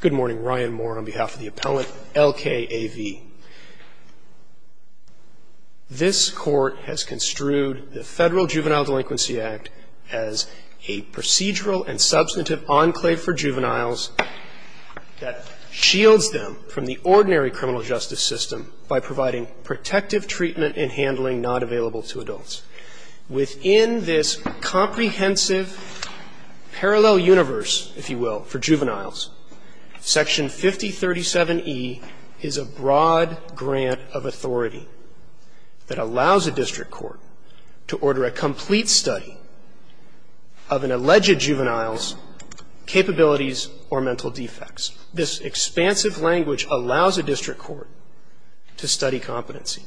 Good morning, Ryan Moore on behalf of the appellant LKAV. This court has construed the Federal Juvenile Delinquency Act as a procedural and substantive enclave for juveniles that shields them from the ordinary criminal justice system by providing protective treatment and handling not available to adults. Within this comprehensive parallel universe, if you will, for juveniles, Section 5037E is a broad grant of authority that allows a district court to order a complete study of an alleged juvenile's capabilities or mental defects. This expansive language allows a district court to study competency,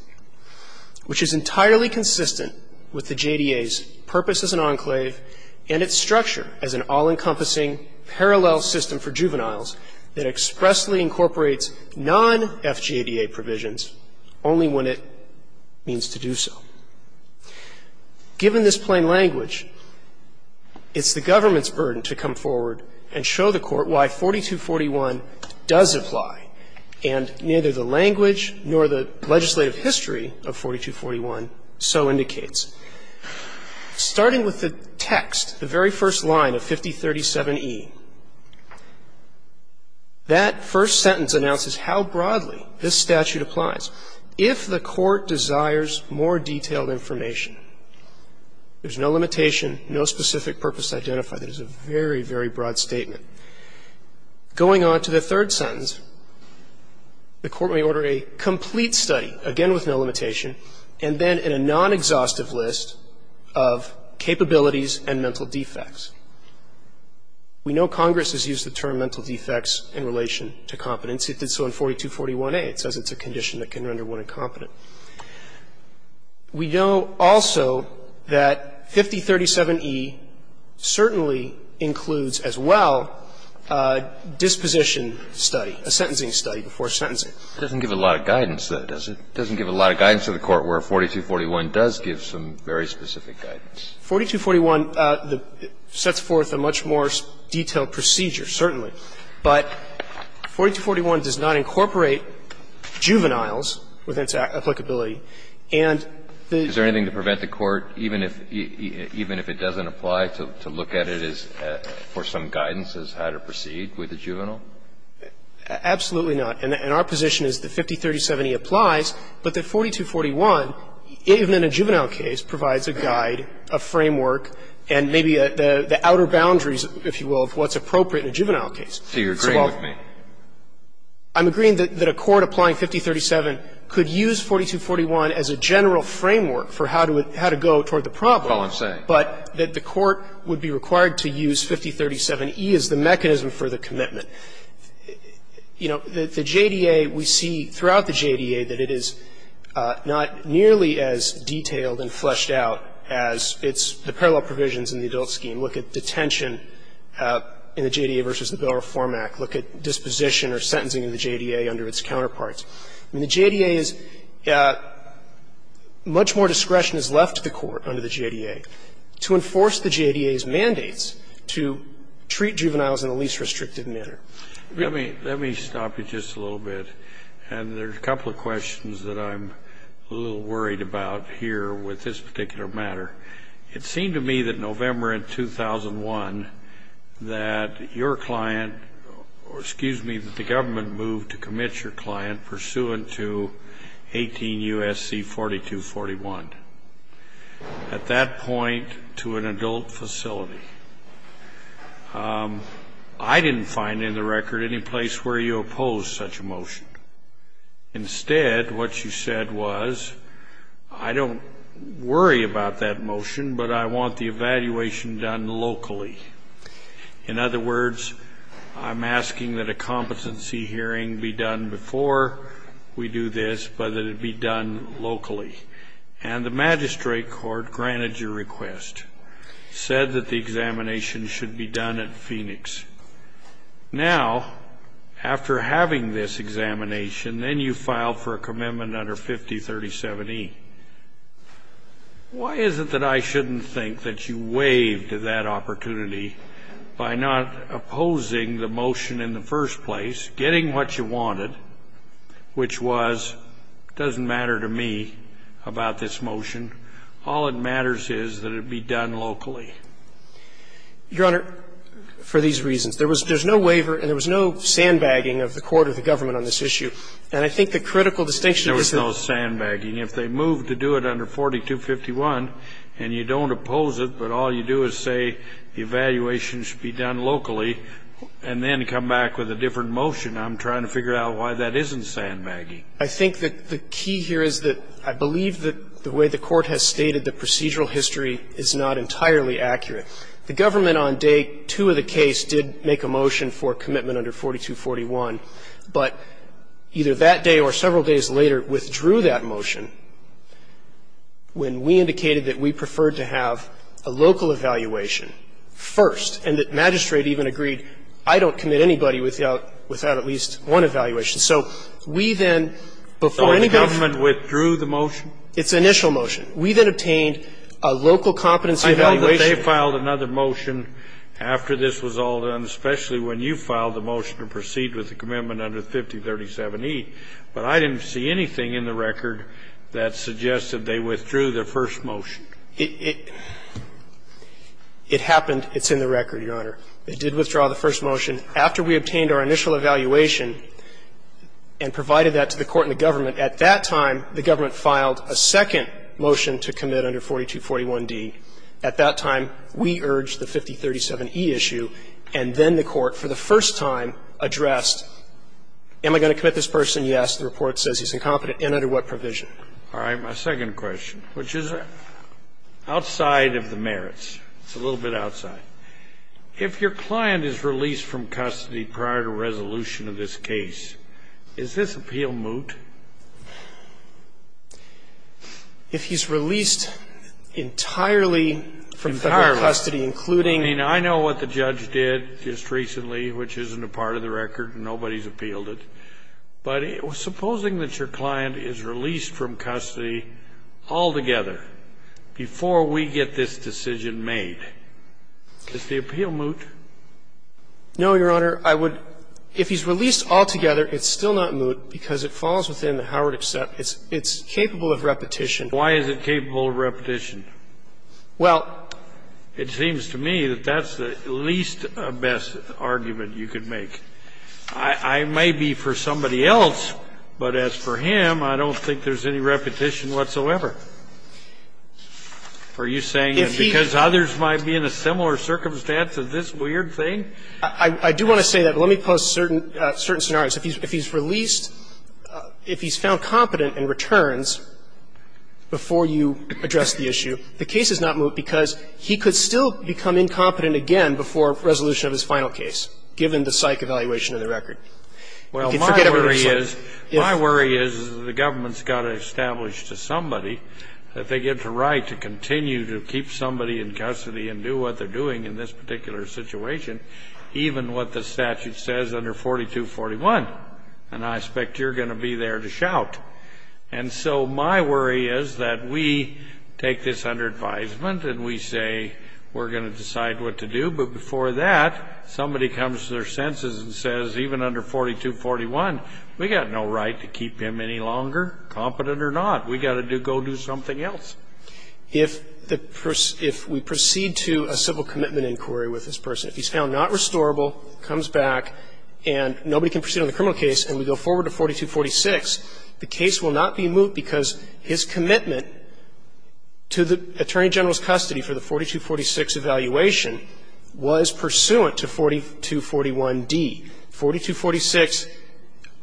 which is entirely consistent with the JDA's purpose as an enclave and its structure as an all-encompassing parallel system for juveniles that expressly incorporates non-FJDA provisions only when it means to do so. Given this plain language, it's the government's burden to come forward and show the Court why 4241 does apply. And neither the language nor the legislative history of 4241 so indicates. Starting with the text, the very first line of 5037E, that first sentence announces how broadly this statute applies. If the Court desires more detailed information, there's no limitation, no specific purpose to identify. That is a very, very broad statement. Going on to the third sentence, the Court may order a complete study, again with no limitation, and then in a non-exhaustive list of capabilities and mental defects. We know Congress has used the term mental defects in relation to competency. It did so in 4241A. It says it's a condition that can render one incompetent. We know also that 5037E certainly includes as well disposition study, a sentencing study before sentencing. It doesn't give a lot of guidance, though, does it? It doesn't give a lot of guidance to the Court where 4241 does give some very specific guidance. 4241 sets forth a much more detailed procedure, certainly. But 4241 does not incorporate juveniles with its applicability. And the ---- Is there anything to prevent the Court, even if it doesn't apply, to look at it as for some guidance as how to proceed with a juvenile? Absolutely not. And our position is that 5037E applies, but that 4241, even in a juvenile case, provides a guide, a framework, and maybe the outer boundaries, if you will, of what's going on in a juvenile case. Do you agree with me? I'm agreeing that a court applying 5037 could use 4241 as a general framework for how to go toward the problem. That's all I'm saying. But that the court would be required to use 5037E as the mechanism for the commitment. You know, the JDA, we see throughout the JDA that it is not nearly as detailed and fleshed out as its the parallel provisions in the adult scheme. You look at detention in the JDA v. the Bill of Reform Act, look at disposition or sentencing in the JDA under its counterparts. I mean, the JDA is ---- much more discretion is left to the court under the JDA to enforce the JDA's mandates to treat juveniles in the least restrictive manner. Let me stop you just a little bit. And there's a couple of questions that I'm a little worried about here with this particular matter. It seemed to me that November of 2001 that your client, or excuse me, that the government moved to commit your client pursuant to 18 U.S.C. 4241. At that point, to an adult facility. I didn't find in the record any place where you opposed such a motion. Instead, what you said was, I don't worry about that motion, but I want the evaluation done locally. In other words, I'm asking that a competency hearing be done before we do this, but that it be done locally. And the magistrate court granted your request, said that the examination should be done at Phoenix. Now, after having this examination, then you file for a commitment under 5037E. Why is it that I shouldn't think that you waived that opportunity by not opposing the motion in the first place, getting what you wanted, which was, doesn't matter to me about this motion, all that matters is that it be done locally? Your Honor, for these reasons, there was no waiver and there was no sandbagging of the court or the government on this issue. And I think the critical distinction is that the court has stated that the procedural history is not entirely accurate. I think that the key here is that I believe that the way the court has stated the procedural history is not entirely accurate. The government on day two of the case did make a motion for commitment under 4241, but either that day or several days later withdrew that motion when we indicated that we preferred to have a local evaluation first, and the magistrate even agreed, I don't commit anybody without at least one evaluation. So we then, before anybody else. So the government withdrew the motion? Its initial motion. We then obtained a local competency evaluation. They filed another motion after this was all done, especially when you filed the motion to proceed with the commitment under 5037E, but I didn't see anything in the record that suggested they withdrew the first motion. It happened. It's in the record, Your Honor. It did withdraw the first motion. After we obtained our initial evaluation and provided that to the court and the government, at that time, the government filed a second motion to commit under 4241D. At that time, we urged the 5037E issue, and then the court, for the first time, addressed, am I going to commit this person? Yes. The report says he's incompetent, and under what provision? All right. My second question, which is outside of the merits. It's a little bit outside. If your client is released from custody prior to resolution of this case, is this appeal moot? If he's released entirely from Federal custody, including. Entirely. I mean, I know what the judge did just recently, which isn't a part of the record. Nobody's appealed it. But supposing that your client is released from custody altogether before we get this decision made, is the appeal moot? No, Your Honor. If he's released altogether, it's still not moot, because it falls within the Howard except it's capable of repetition. Why is it capable of repetition? Well. It seems to me that that's the least best argument you could make. I may be for somebody else, but as for him, I don't think there's any repetition whatsoever. Are you saying that because others might be in a similar circumstance as this weird thing? I do want to say that. Let me pose certain scenarios. If he's released, if he's found competent and returns before you address the issue, the case is not moot because he could still become incompetent again before resolution of his final case, given the psych evaluation of the record. Well, my worry is, my worry is that the government's got to establish to somebody that they get the right to continue to keep somebody in custody and do what they're doing in this particular situation, even what the statute says under 4241. And I expect you're going to be there to shout. And so my worry is that we take this under advisement and we say we're going to decide what to do, but before that, somebody comes to their senses and says, even under 4241, we've got no right to keep him any longer, competent or not. We've got to go do something else. If we proceed to a civil commitment inquiry with this person, if he's found not restorable, comes back, and nobody can proceed on the criminal case and we go forward to 4246, the case will not be moot because his commitment to the Attorney General's custody for the 4246 evaluation was pursuant to 4241d. 4246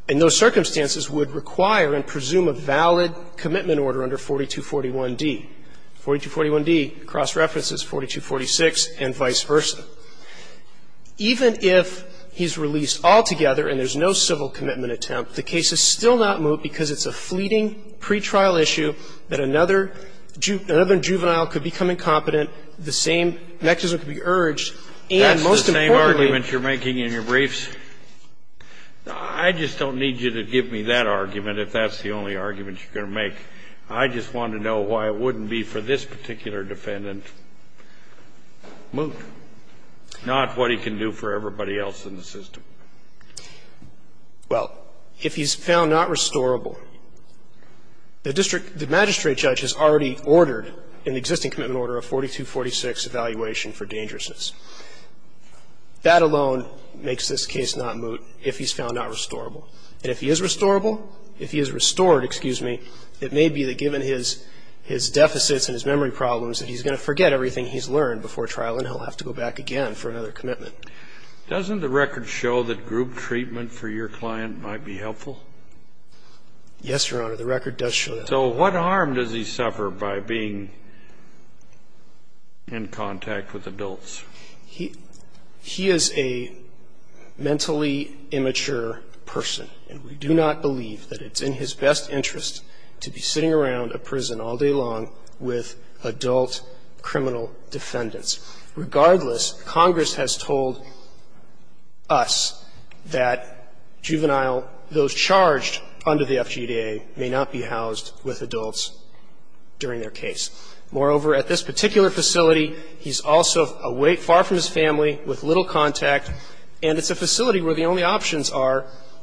in those circumstances would require and presume a valid commitment order under 4241d. 4241d cross-references 4246 and vice versa. Even if he's released altogether and there's no civil commitment attempt, the case is still not moot because it's a fleeting pretrial issue that another juvenile could become incompetent, the same mechanism could be urged, and most importantly That's the same argument you're making in your briefs? I just don't need you to give me that argument if that's the only argument you're making. I just want to know why it wouldn't be for this particular defendant, moot, not what he can do for everybody else in the system. Well, if he's found not restorable, the district the magistrate judge has already ordered in the existing commitment order a 4246 evaluation for dangerousness. That alone makes this case not moot if he's found not restorable. And if he is restorable, if he is restored, excuse me, it may be that given his deficits and his memory problems that he's going to forget everything he's learned before trial and he'll have to go back again for another commitment. Doesn't the record show that group treatment for your client might be helpful? Yes, Your Honor, the record does show that. So what harm does he suffer by being in contact with adults? He is a mentally immature person, and we do not believe that it's in his best interest to be sitting around a prison all day long with adult criminal defendants. Regardless, Congress has told us that juvenile, those charged under the FGDA, may not be housed with adults during their case. Moreover, at this particular facility, he's also far from his family, with little contact, and it's a facility where the only options are,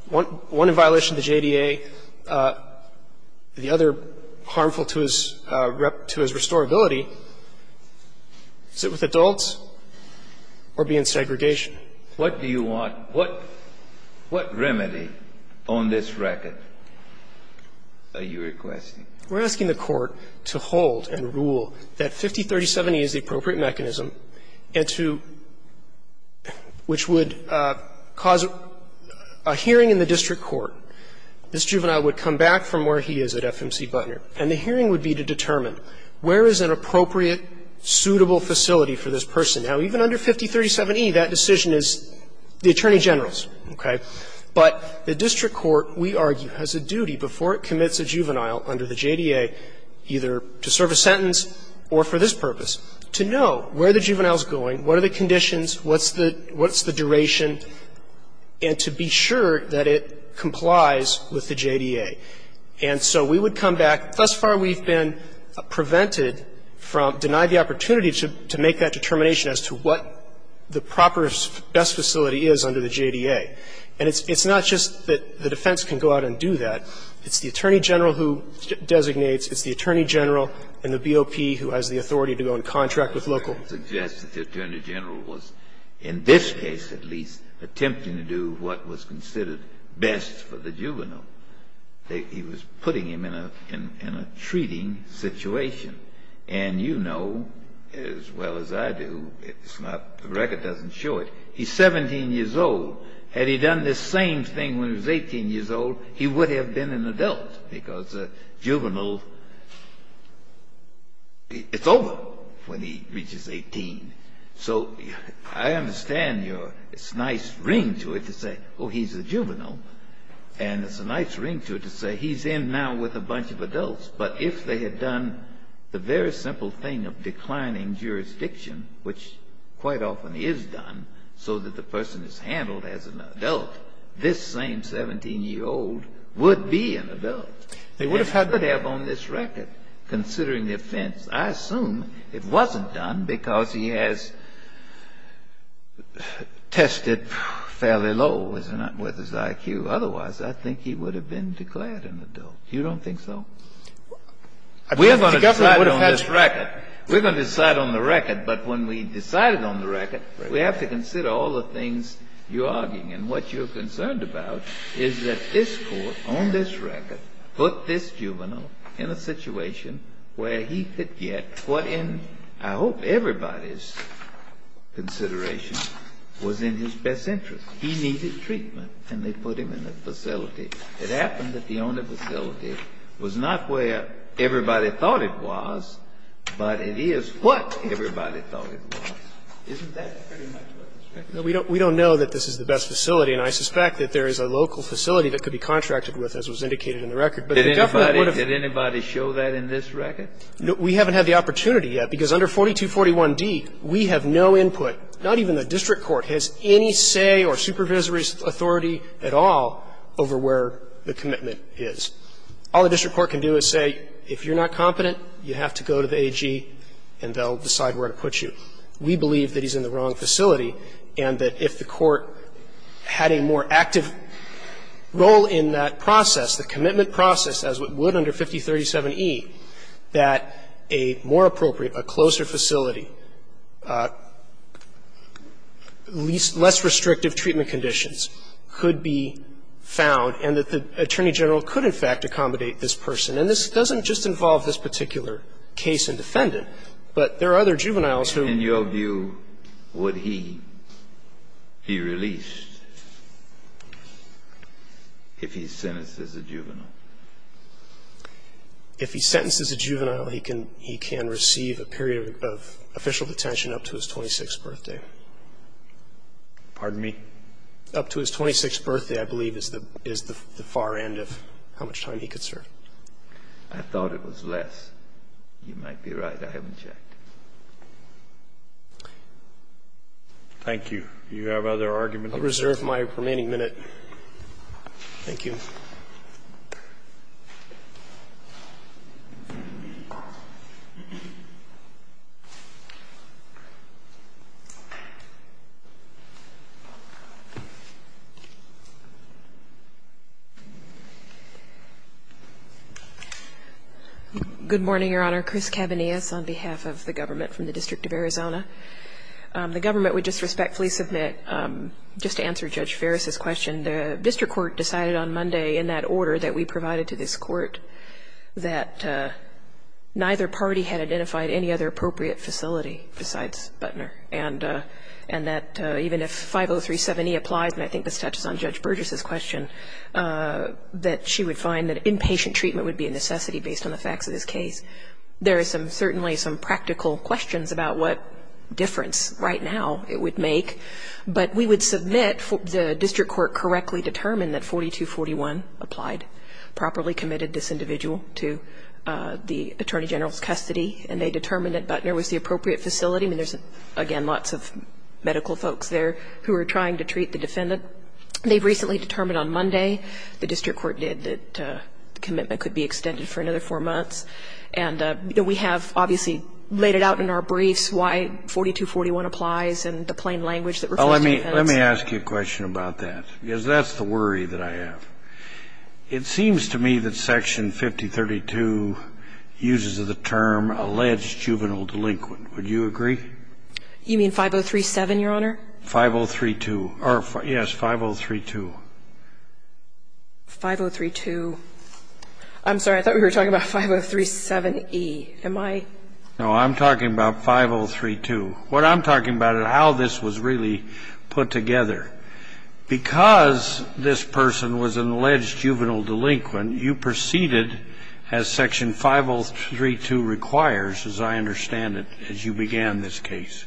one in violation of the JDA, the other harmful to his restorability, sit with adults or be in segregation. What do you want? What remedy on this record are you requesting? We're asking the Court to hold and rule that 5037E is the appropriate mechanism and to – which would cause a hearing in the district court. This juvenile would come back from where he is at FMC Butner, and the hearing would be to determine where is an appropriate, suitable facility for this person. Now, even under 5037E, that decision is the attorney general's, okay? But the district court, we argue, has a duty before it commits a juvenile under the JDA, either to serve a sentence or for this purpose, to know where the juvenile is going, what are the conditions, what's the – what's the duration, and to be sure that it complies with the JDA. And so we would come back. Thus far, we've been prevented from – denied the opportunity to make that determination as to what the proper best facility is under the JDA. And it's not just that the defense can go out and do that. It's the attorney general who designates. It's the attorney general and the BOP who has the authority to go and contract with local. I would suggest that the attorney general was, in this case at least, attempting to do what was considered best for the juvenile. He was putting him in a – in a treating situation. And you know as well as I do, it's not – the record doesn't show it. He's 17 years old. Had he done this same thing when he was 18 years old, he would have been an adult because a juvenile – it's over when he reaches 18. So I understand your – it's a nice ring to it to say, oh, he's a juvenile. And it's a nice ring to it to say he's in now with a bunch of adults. But if they had done the very simple thing of declining jurisdiction, which quite often is done so that the person is handled as an adult, this same 17-year-old would be an adult. They would have had to have on this record, considering the offense. I assume it wasn't done because he has tested fairly low, isn't it, with his IQ. Otherwise, I think he would have been declared an adult. You don't think so? We're going to decide on this record. We're going to decide on the record. But when we decided on the record, we have to consider all the things you're arguing. And what you're concerned about is that this Court on this record put this juvenile in a situation where he could get what in, I hope, everybody's consideration was in his best interest. He needed treatment, and they put him in a facility. It happened that the only facility was not where everybody thought it was, but it is what everybody thought it was. Isn't that pretty much what's expected? We don't know that this is the best facility. And I suspect that there is a local facility that could be contracted with, as was indicated in the record. But if the government wanted to do it. Did anybody show that in this record? We haven't had the opportunity yet, because under 4241d, we have no input. Not even the district court has any say or supervisory authority at all over where the commitment is. All the district court can do is say, if you're not competent, you have to go to the district court, and they'll decide where to put you. We believe that he's in the wrong facility, and that if the Court had a more active role in that process, the commitment process, as it would under 5037e, that a more appropriate, a closer facility, less restrictive treatment conditions could be found, and that the attorney general could, in fact, accommodate this person. And this doesn't just involve this particular case and defendant. But there are other juveniles who ---- In your view, would he be released if he's sentenced as a juvenile? If he's sentenced as a juvenile, he can receive a period of official detention up to his 26th birthday. Pardon me? Up to his 26th birthday, I believe, is the far end of how much time he could serve. I thought it was less. You might be right. I haven't checked. Thank you. Do you have other arguments? I'll reserve my remaining minute. Thank you. Good morning, Your Honor. Chris Cabanillas on behalf of the government from the District of Arizona. The government would just respectfully submit, just to answer Judge Ferris's question, the district court decided on Monday in that order that we provided to this court that neither party had identified any other appropriate facility besides Butner, and that even if 5037E applies, and I think this touches on Judge Burgess's question, that she would find that inpatient treatment would be a necessity based on the facts of this case. There are certainly some practical questions about what difference right now it would make, but we would submit the district court correctly determined that 4241 applied, properly committed this individual to the attorney general's custody, and they determined that Butner was the appropriate facility. I mean, there's, again, lots of medical folks there who are trying to treat the defendant. They've recently determined on Monday, the district court did, that the commitment could be extended for another four months. And we have obviously laid it out in our briefs why 4241 applies and the plain language that reflects dependence. Let me ask you a question about that, because that's the worry that I have. It seems to me that Section 5032 uses the term alleged juvenile delinquent. Would you agree? You mean 5037, Your Honor? 5032. Or, yes, 5032. 5032. I'm sorry. I thought we were talking about 5037E. Am I? No, I'm talking about 5032. What I'm talking about is how this was really put together. Because this person was an alleged juvenile delinquent, you proceeded, as Section 5032 requires, as I understand it, as you began this case.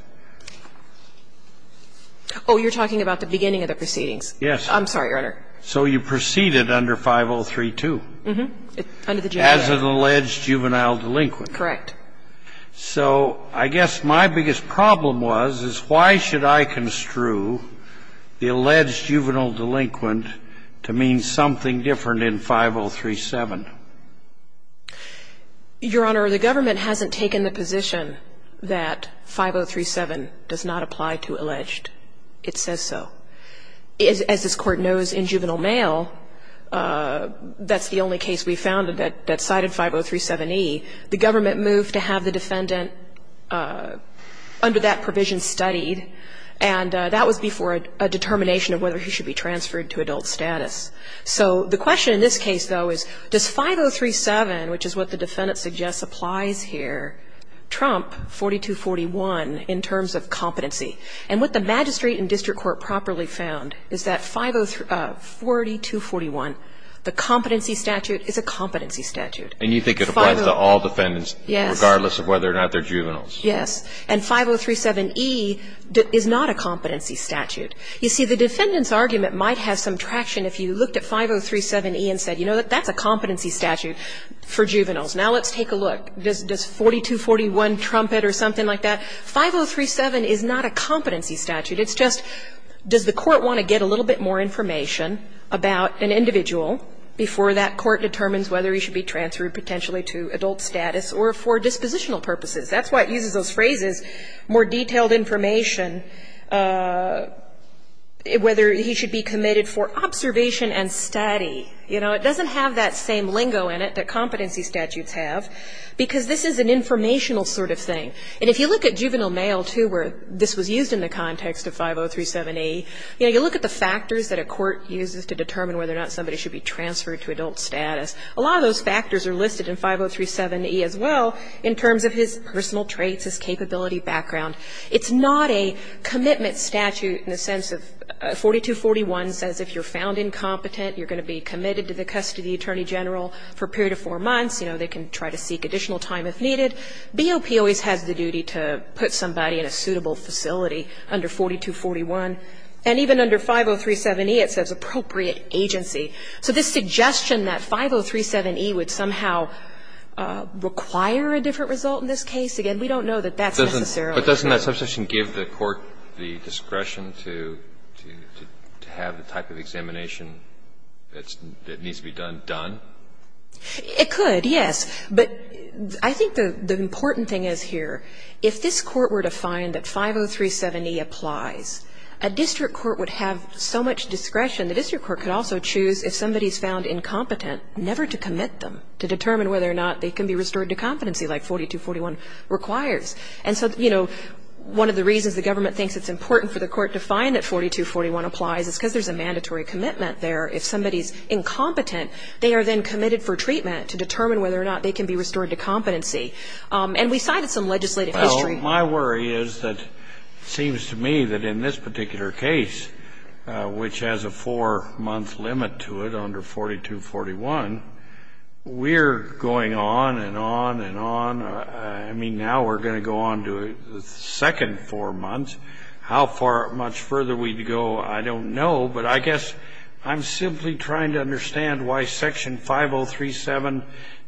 Oh, you're talking about the beginning of the proceedings. Yes. I'm sorry, Your Honor. So you proceeded under 5032. Mm-hmm. Under the juvenile. As an alleged juvenile delinquent. Correct. So I guess my biggest problem was, is why should I construe the alleged juvenile delinquent to mean something different in 5037? Your Honor, the government hasn't taken the position that 5037 does not apply to alleged. It says so. As this Court knows, in juvenile mail, that's the only case we found that cited 5037E. The government moved to have the defendant, under that provision, studied. And that was before a determination of whether he should be transferred to adult status. So the question in this case, though, is, does 5037, which is what the defendant suggests applies here, trump 4241 in terms of competency? And what the magistrate and district court properly found is that 40241, the competency statute, is a competency statute. And you think it applies to all defendants. Yes. Regardless of whether or not they're juveniles. Yes. And 5037E is not a competency statute. You see, the defendant's argument might have some traction if you looked at 5037E and said, you know, that's a competency statute for juveniles. Now let's take a look. Does 4241 trump it or something like that? 5037 is not a competency statute. It's just, does the Court want to get a little bit more information about an individual before that court determines whether he should be transferred potentially to adult status or for dispositional purposes? That's why it uses those phrases, more detailed information, whether he should be committed for observation and study. You know, it doesn't have that same lingo in it that competency statutes have, because this is an informational sort of thing. And if you look at juvenile mail, too, where this was used in the context of 5037E, you know, you look at the factors that a court uses to determine whether or not somebody should be transferred to adult status. A lot of those factors are listed in 5037E as well in terms of his personal traits, his capability background. It's not a commitment statute in the sense of 4241 says if you're found incompetent, you're going to be committed to the custody attorney general for a period of four months. You know, they can try to seek additional time if needed. BOP always has the duty to put somebody in a suitable facility under 4241. And even under 5037E, it says appropriate agency. So this suggestion that 5037E would somehow require a different result in this case, again, we don't know that that's necessarily true. But doesn't that suggestion give the court the discretion to have the type of examination that needs to be done done? It could, yes. But I think the important thing is here, if this Court were to find that 5037E applies, a district court would have so much discretion. The district court could also choose, if somebody's found incompetent, never to commit them to determine whether or not they can be restored to competency like 4241 requires. And so, you know, one of the reasons the government thinks it's important for the court to find that 4241 applies is because there's a mandatory commitment there. If somebody's incompetent, they are then committed for treatment to determine whether or not they can be restored to competency. And we cited some legislative history. I think my worry is that it seems to me that in this particular case, which has a four-month limit to it under 4241, we're going on and on and on. I mean, now we're going to go on to the second four months. How far, much further we'd go, I don't know. But I guess I'm simply trying to understand why Section 5037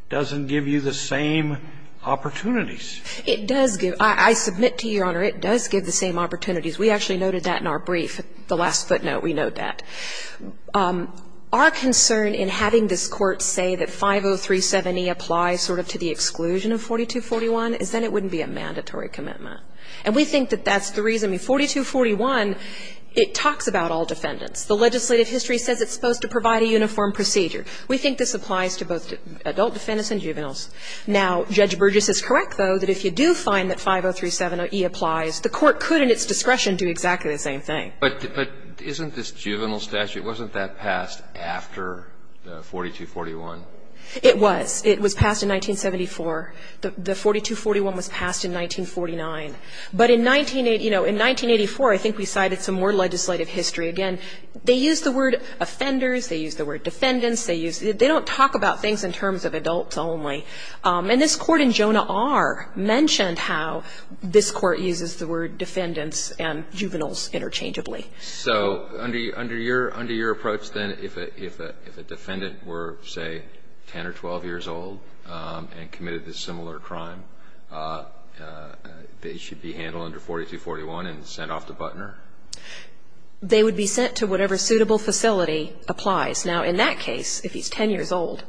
doesn't give you the same opportunities. It does give. I submit to Your Honor, it does give the same opportunities. We actually noted that in our brief. The last footnote, we note that. Our concern in having this Court say that 5037e applies sort of to the exclusion of 4241 is then it wouldn't be a mandatory commitment. And we think that that's the reason. I mean, 4241, it talks about all defendants. The legislative history says it's supposed to provide a uniform procedure. We think this applies to both adult defendants and juveniles. Now, Judge Burgess is correct, though, that if you do find that 5037e applies, the Court could, in its discretion, do exactly the same thing. But isn't this juvenile statute, wasn't that passed after 4241? It was. It was passed in 1974. The 4241 was passed in 1949. But in 1980, you know, in 1984, I think we cited some more legislative history. Again, they used the word offenders, they used the word defendants, they used the They don't talk about things in terms of adults only. And this Court in Jonah R. mentioned how this Court uses the word defendants and juveniles interchangeably. So under your approach, then, if a defendant were, say, 10 or 12 years old and committed a similar crime, they should be handled under 4241 and sent off to Butner? They would be sent to whatever suitable facility applies. Now, in that case, if he's 10 years old,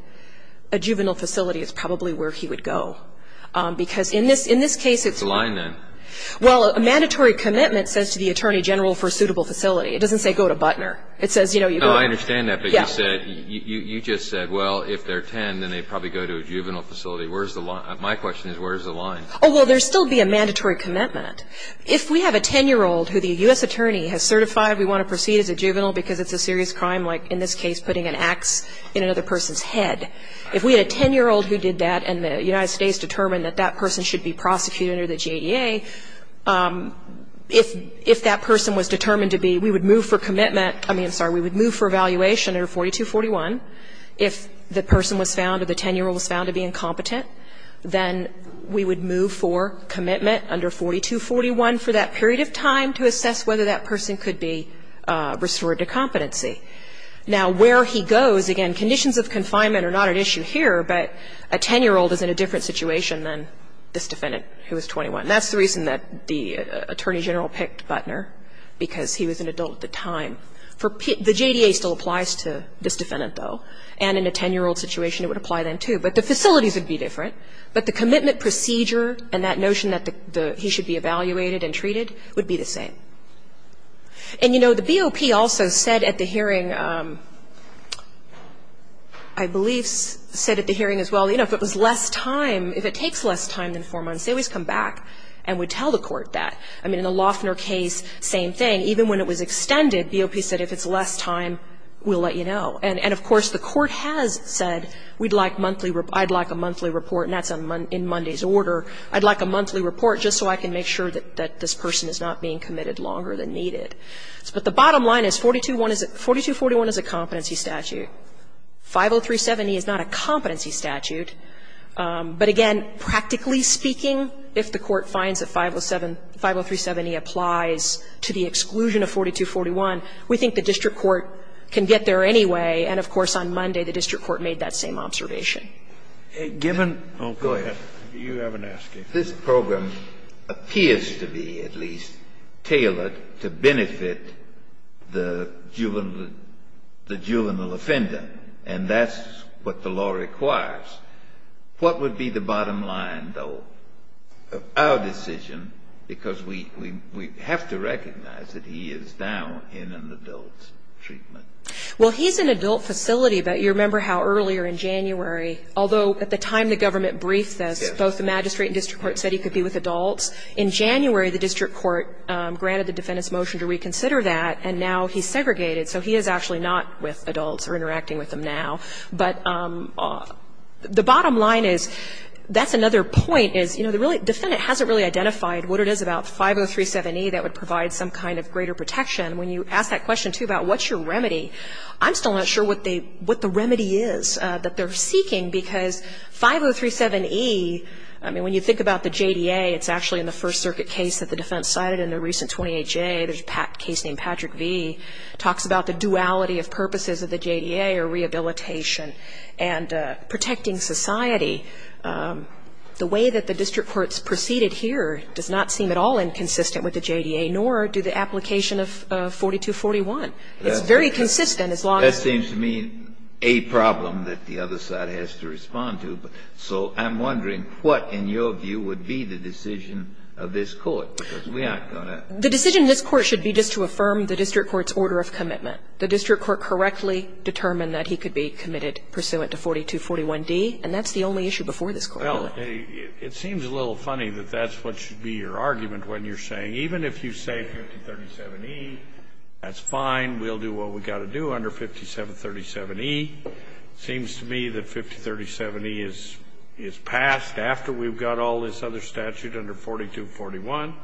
a juvenile facility is probably where he would go. Because in this case, it's Where's the line, then? Well, a mandatory commitment says to the attorney general for a suitable facility. It doesn't say go to Butner. It says, you know, you go No, I understand that. But you said, you just said, well, if they're 10, then they'd probably go to a juvenile facility. Where's the line? My question is, where's the line? Oh, well, there would still be a mandatory commitment. If we have a 10-year-old who the U.S. attorney has certified we want to proceed as a juvenile because it's a serious crime, like in this case putting an ax in another person's head, if we had a 10-year-old who did that and the United States determined that that person should be prosecuted under the GEA, if that person was determined to be, we would move for commitment. I mean, I'm sorry. We would move for evaluation under 4241. If the person was found or the 10-year-old was found to be incompetent, then we would move for commitment under 4241 for that period of time to assess whether that person could be restored to competency. Now, where he goes, again, conditions of confinement are not at issue here, but a 10-year-old is in a different situation than this defendant who was 21. That's the reason that the attorney general picked Buttner, because he was an adult at the time. The JDA still applies to this defendant, though, and in a 10-year-old situation it would apply then, too. But the facilities would be different. But the commitment procedure and that notion that he should be evaluated and treated would be the same. And, you know, the BOP also said at the hearing, I believe said at the hearing as well, you know, if it was less time, if it takes less time than four months, they always come back and would tell the court that. I mean, in the Loeffner case, same thing. Even when it was extended, BOP said if it's less time, we'll let you know. And, of course, the court has said we'd like monthly report, I'd like a monthly report, and that's in Monday's order. I'd like a monthly report just so I can make sure that this person is not being committed longer than needed. But the bottom line is 4241 is a competency statute. 50370 is not a competency statute. But, again, practically speaking, if the court finds that 50370 applies to the exclusion of 4241, we think the district court can get there anyway. And, of course, on Monday the district court made that same observation. Scalia. Go ahead. You haven't asked anything. Kennedy. This program appears to be, at least, tailored to benefit the juvenile offender, and that's what the law requires. What would be the bottom line, though, of our decision, because we have to recognize that he is now in an adult treatment? Well, he's in adult facility, but you remember how earlier in January, although at the time the government briefed this, both the magistrate and district court said he could be with adults. In January, the district court granted the defendant's motion to reconsider that, and now he's segregated, so he is actually not with adults or interacting with them now. But the bottom line is, that's another point, is, you know, the defendant hasn't really identified what it is about 5037E that would provide some kind of greater protection. When you ask that question, too, about what's your remedy, I'm still not sure what the remedy is that they're seeking, because 5037E, I mean, when you think about the JDA, it's actually in the First Circuit case that the defense cited in the recent 28J. There's a case named Patrick V. It talks about the duality of purposes of the JDA or rehabilitation and protecting society. The way that the district court's proceeded here does not seem at all inconsistent with the JDA, nor do the application of 4241. It's very consistent as long as the other side has to respond to. So I'm wondering what, in your view, would be the decision of this Court, because we aren't going to. The decision of this Court should be just to affirm the district court's order of commitment. The district court correctly determined that he could be committed pursuant to 4241D, and that's the only issue before this Court, really. Well, it seems a little funny that that's what should be your argument when you're saying, even if you say 5037E, that's fine. We'll do what we've got to do under 5737E. It seems to me that 5037E is passed after we've got all this other statute under 4241.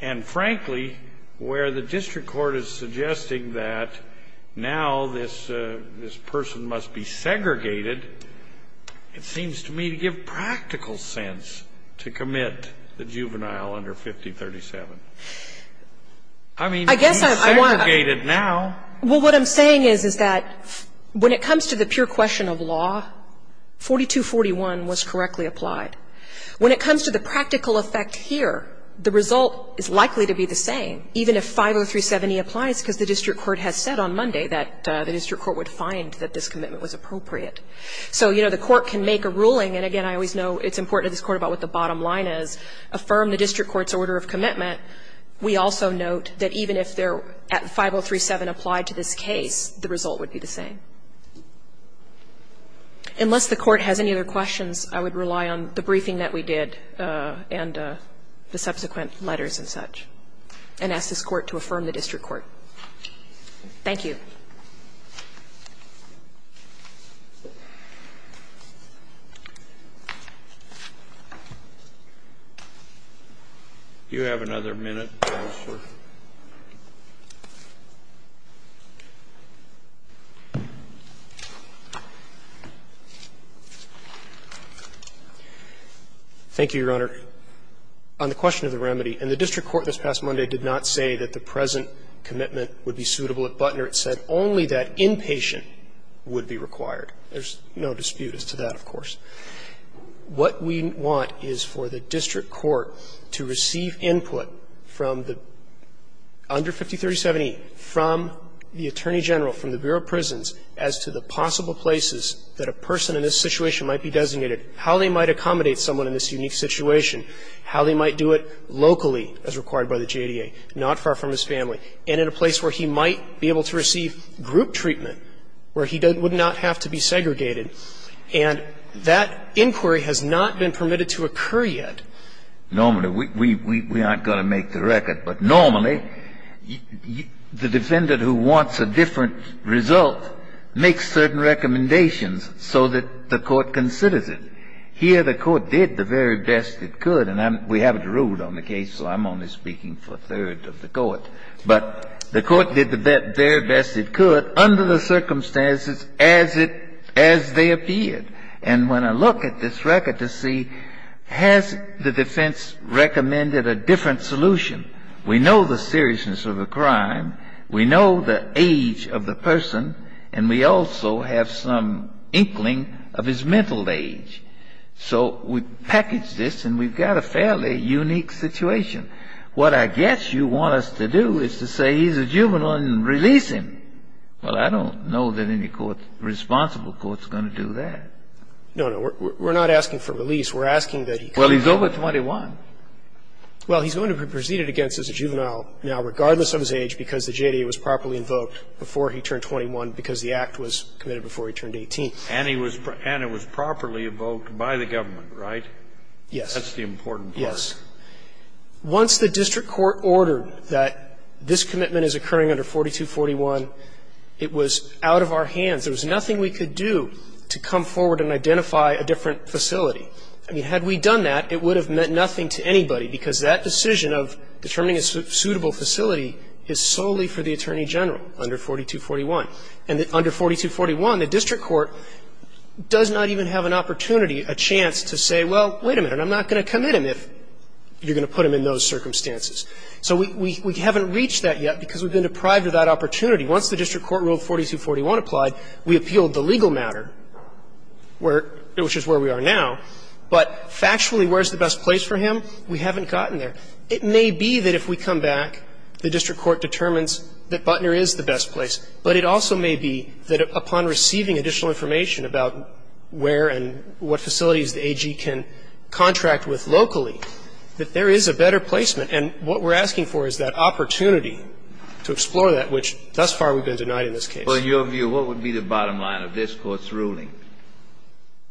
And, frankly, where the district court is suggesting that now this person must be It seems to me to give practical sense to commit the juvenile under 5037. I mean, he's segregated now. Well, what I'm saying is, is that when it comes to the pure question of law, 4241 was correctly applied. When it comes to the practical effect here, the result is likely to be the same, even if 5037E applies, because the district court has said on Monday that the district court would find that this commitment was appropriate. So, you know, the Court can make a ruling. And, again, I always know it's important to this Court about what the bottom line is. Affirm the district court's order of commitment. We also note that even if 5037 applied to this case, the result would be the same. Unless the Court has any other questions, I would rely on the briefing that we did and the subsequent letters and such, and ask this Court to affirm the district court. Thank you. Do you have another minute? Thank you, Your Honor. On the question of the remedy, and the district court this past Monday did not say that the present commitment would be suitable at Butner. It said only that inpatient would be required. There's no dispute as to that, of course. What we want is for the district court to receive input from the under 5037E, from the Attorney General, from the Bureau of Prisons, as to the possible places that a person in this situation might be designated, how they might accommodate someone in this unique situation, how they might do it locally, as required by the JDA, not far from his family, and in a place where he might be able to receive group treatment, where he would not have to be segregated. And that inquiry has not been permitted to occur yet. Normally, we aren't going to make the record. But normally, the defendant who wants a different result makes certain recommendations so that the Court considers it. Here, the Court did the very best it could. And we haven't ruled on the case, so I'm only speaking for a third of the Court. But the Court did the very best it could under the circumstances as they appeared. And when I look at this record to see, has the defense recommended a different solution? We know the seriousness of the crime. We know the age of the person. And we also have some inkling of his mental age. So we package this, and we've got a fairly unique situation. What I guess you want us to do is to say he's a juvenile and release him. Well, I don't know that any court, responsible court, is going to do that. No, no. We're not asking for release. We're asking that he come out. Well, he's over 21. Well, he's going to be preceded against as a juvenile now, regardless of his age, because the JDA was properly invoked before he turned 21, because the act was committed before he turned 18. And it was properly invoked by the government, right? Yes. That's the important part. Yes. Once the district court ordered that this commitment is occurring under 4241, it was out of our hands. There was nothing we could do to come forward and identify a different facility. I mean, had we done that, it would have meant nothing to anybody, because that decision of determining a suitable facility is solely for the Attorney General under 4241. And under 4241, the district court does not even have an opportunity, a chance to say, well, wait a minute, I'm not going to commit him if you're going to put him in those circumstances. So we haven't reached that yet, because we've been deprived of that opportunity. Once the district court ruled 4241 applied, we appealed the legal matter, which is where we are now. But factually, where's the best place for him? We haven't gotten there. It may be that if we come back, the district court determines that Butner is the best place. But it also may be that upon receiving additional information about where and what facilities the AG can contract with locally, that there is a better placement. And what we're asking for is that opportunity to explore that, which thus far we've been denied in this case. Kennedy, in your view, what would be the bottom line of this Court's ruling?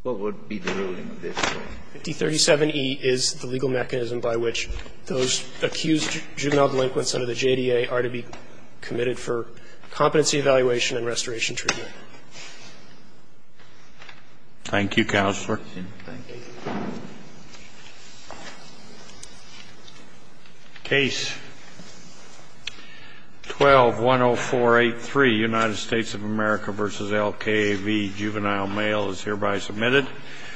What would be the ruling of this Court? D37E is the legal mechanism by which those accused juvenile delinquents under the jurisdiction of the District Court are granted competency evaluation and restoration treatment. Thank you, Counselor. Thank you. Case 12-10483, United States of America v. LKAV, Juvenile Mail, is hereby submitted.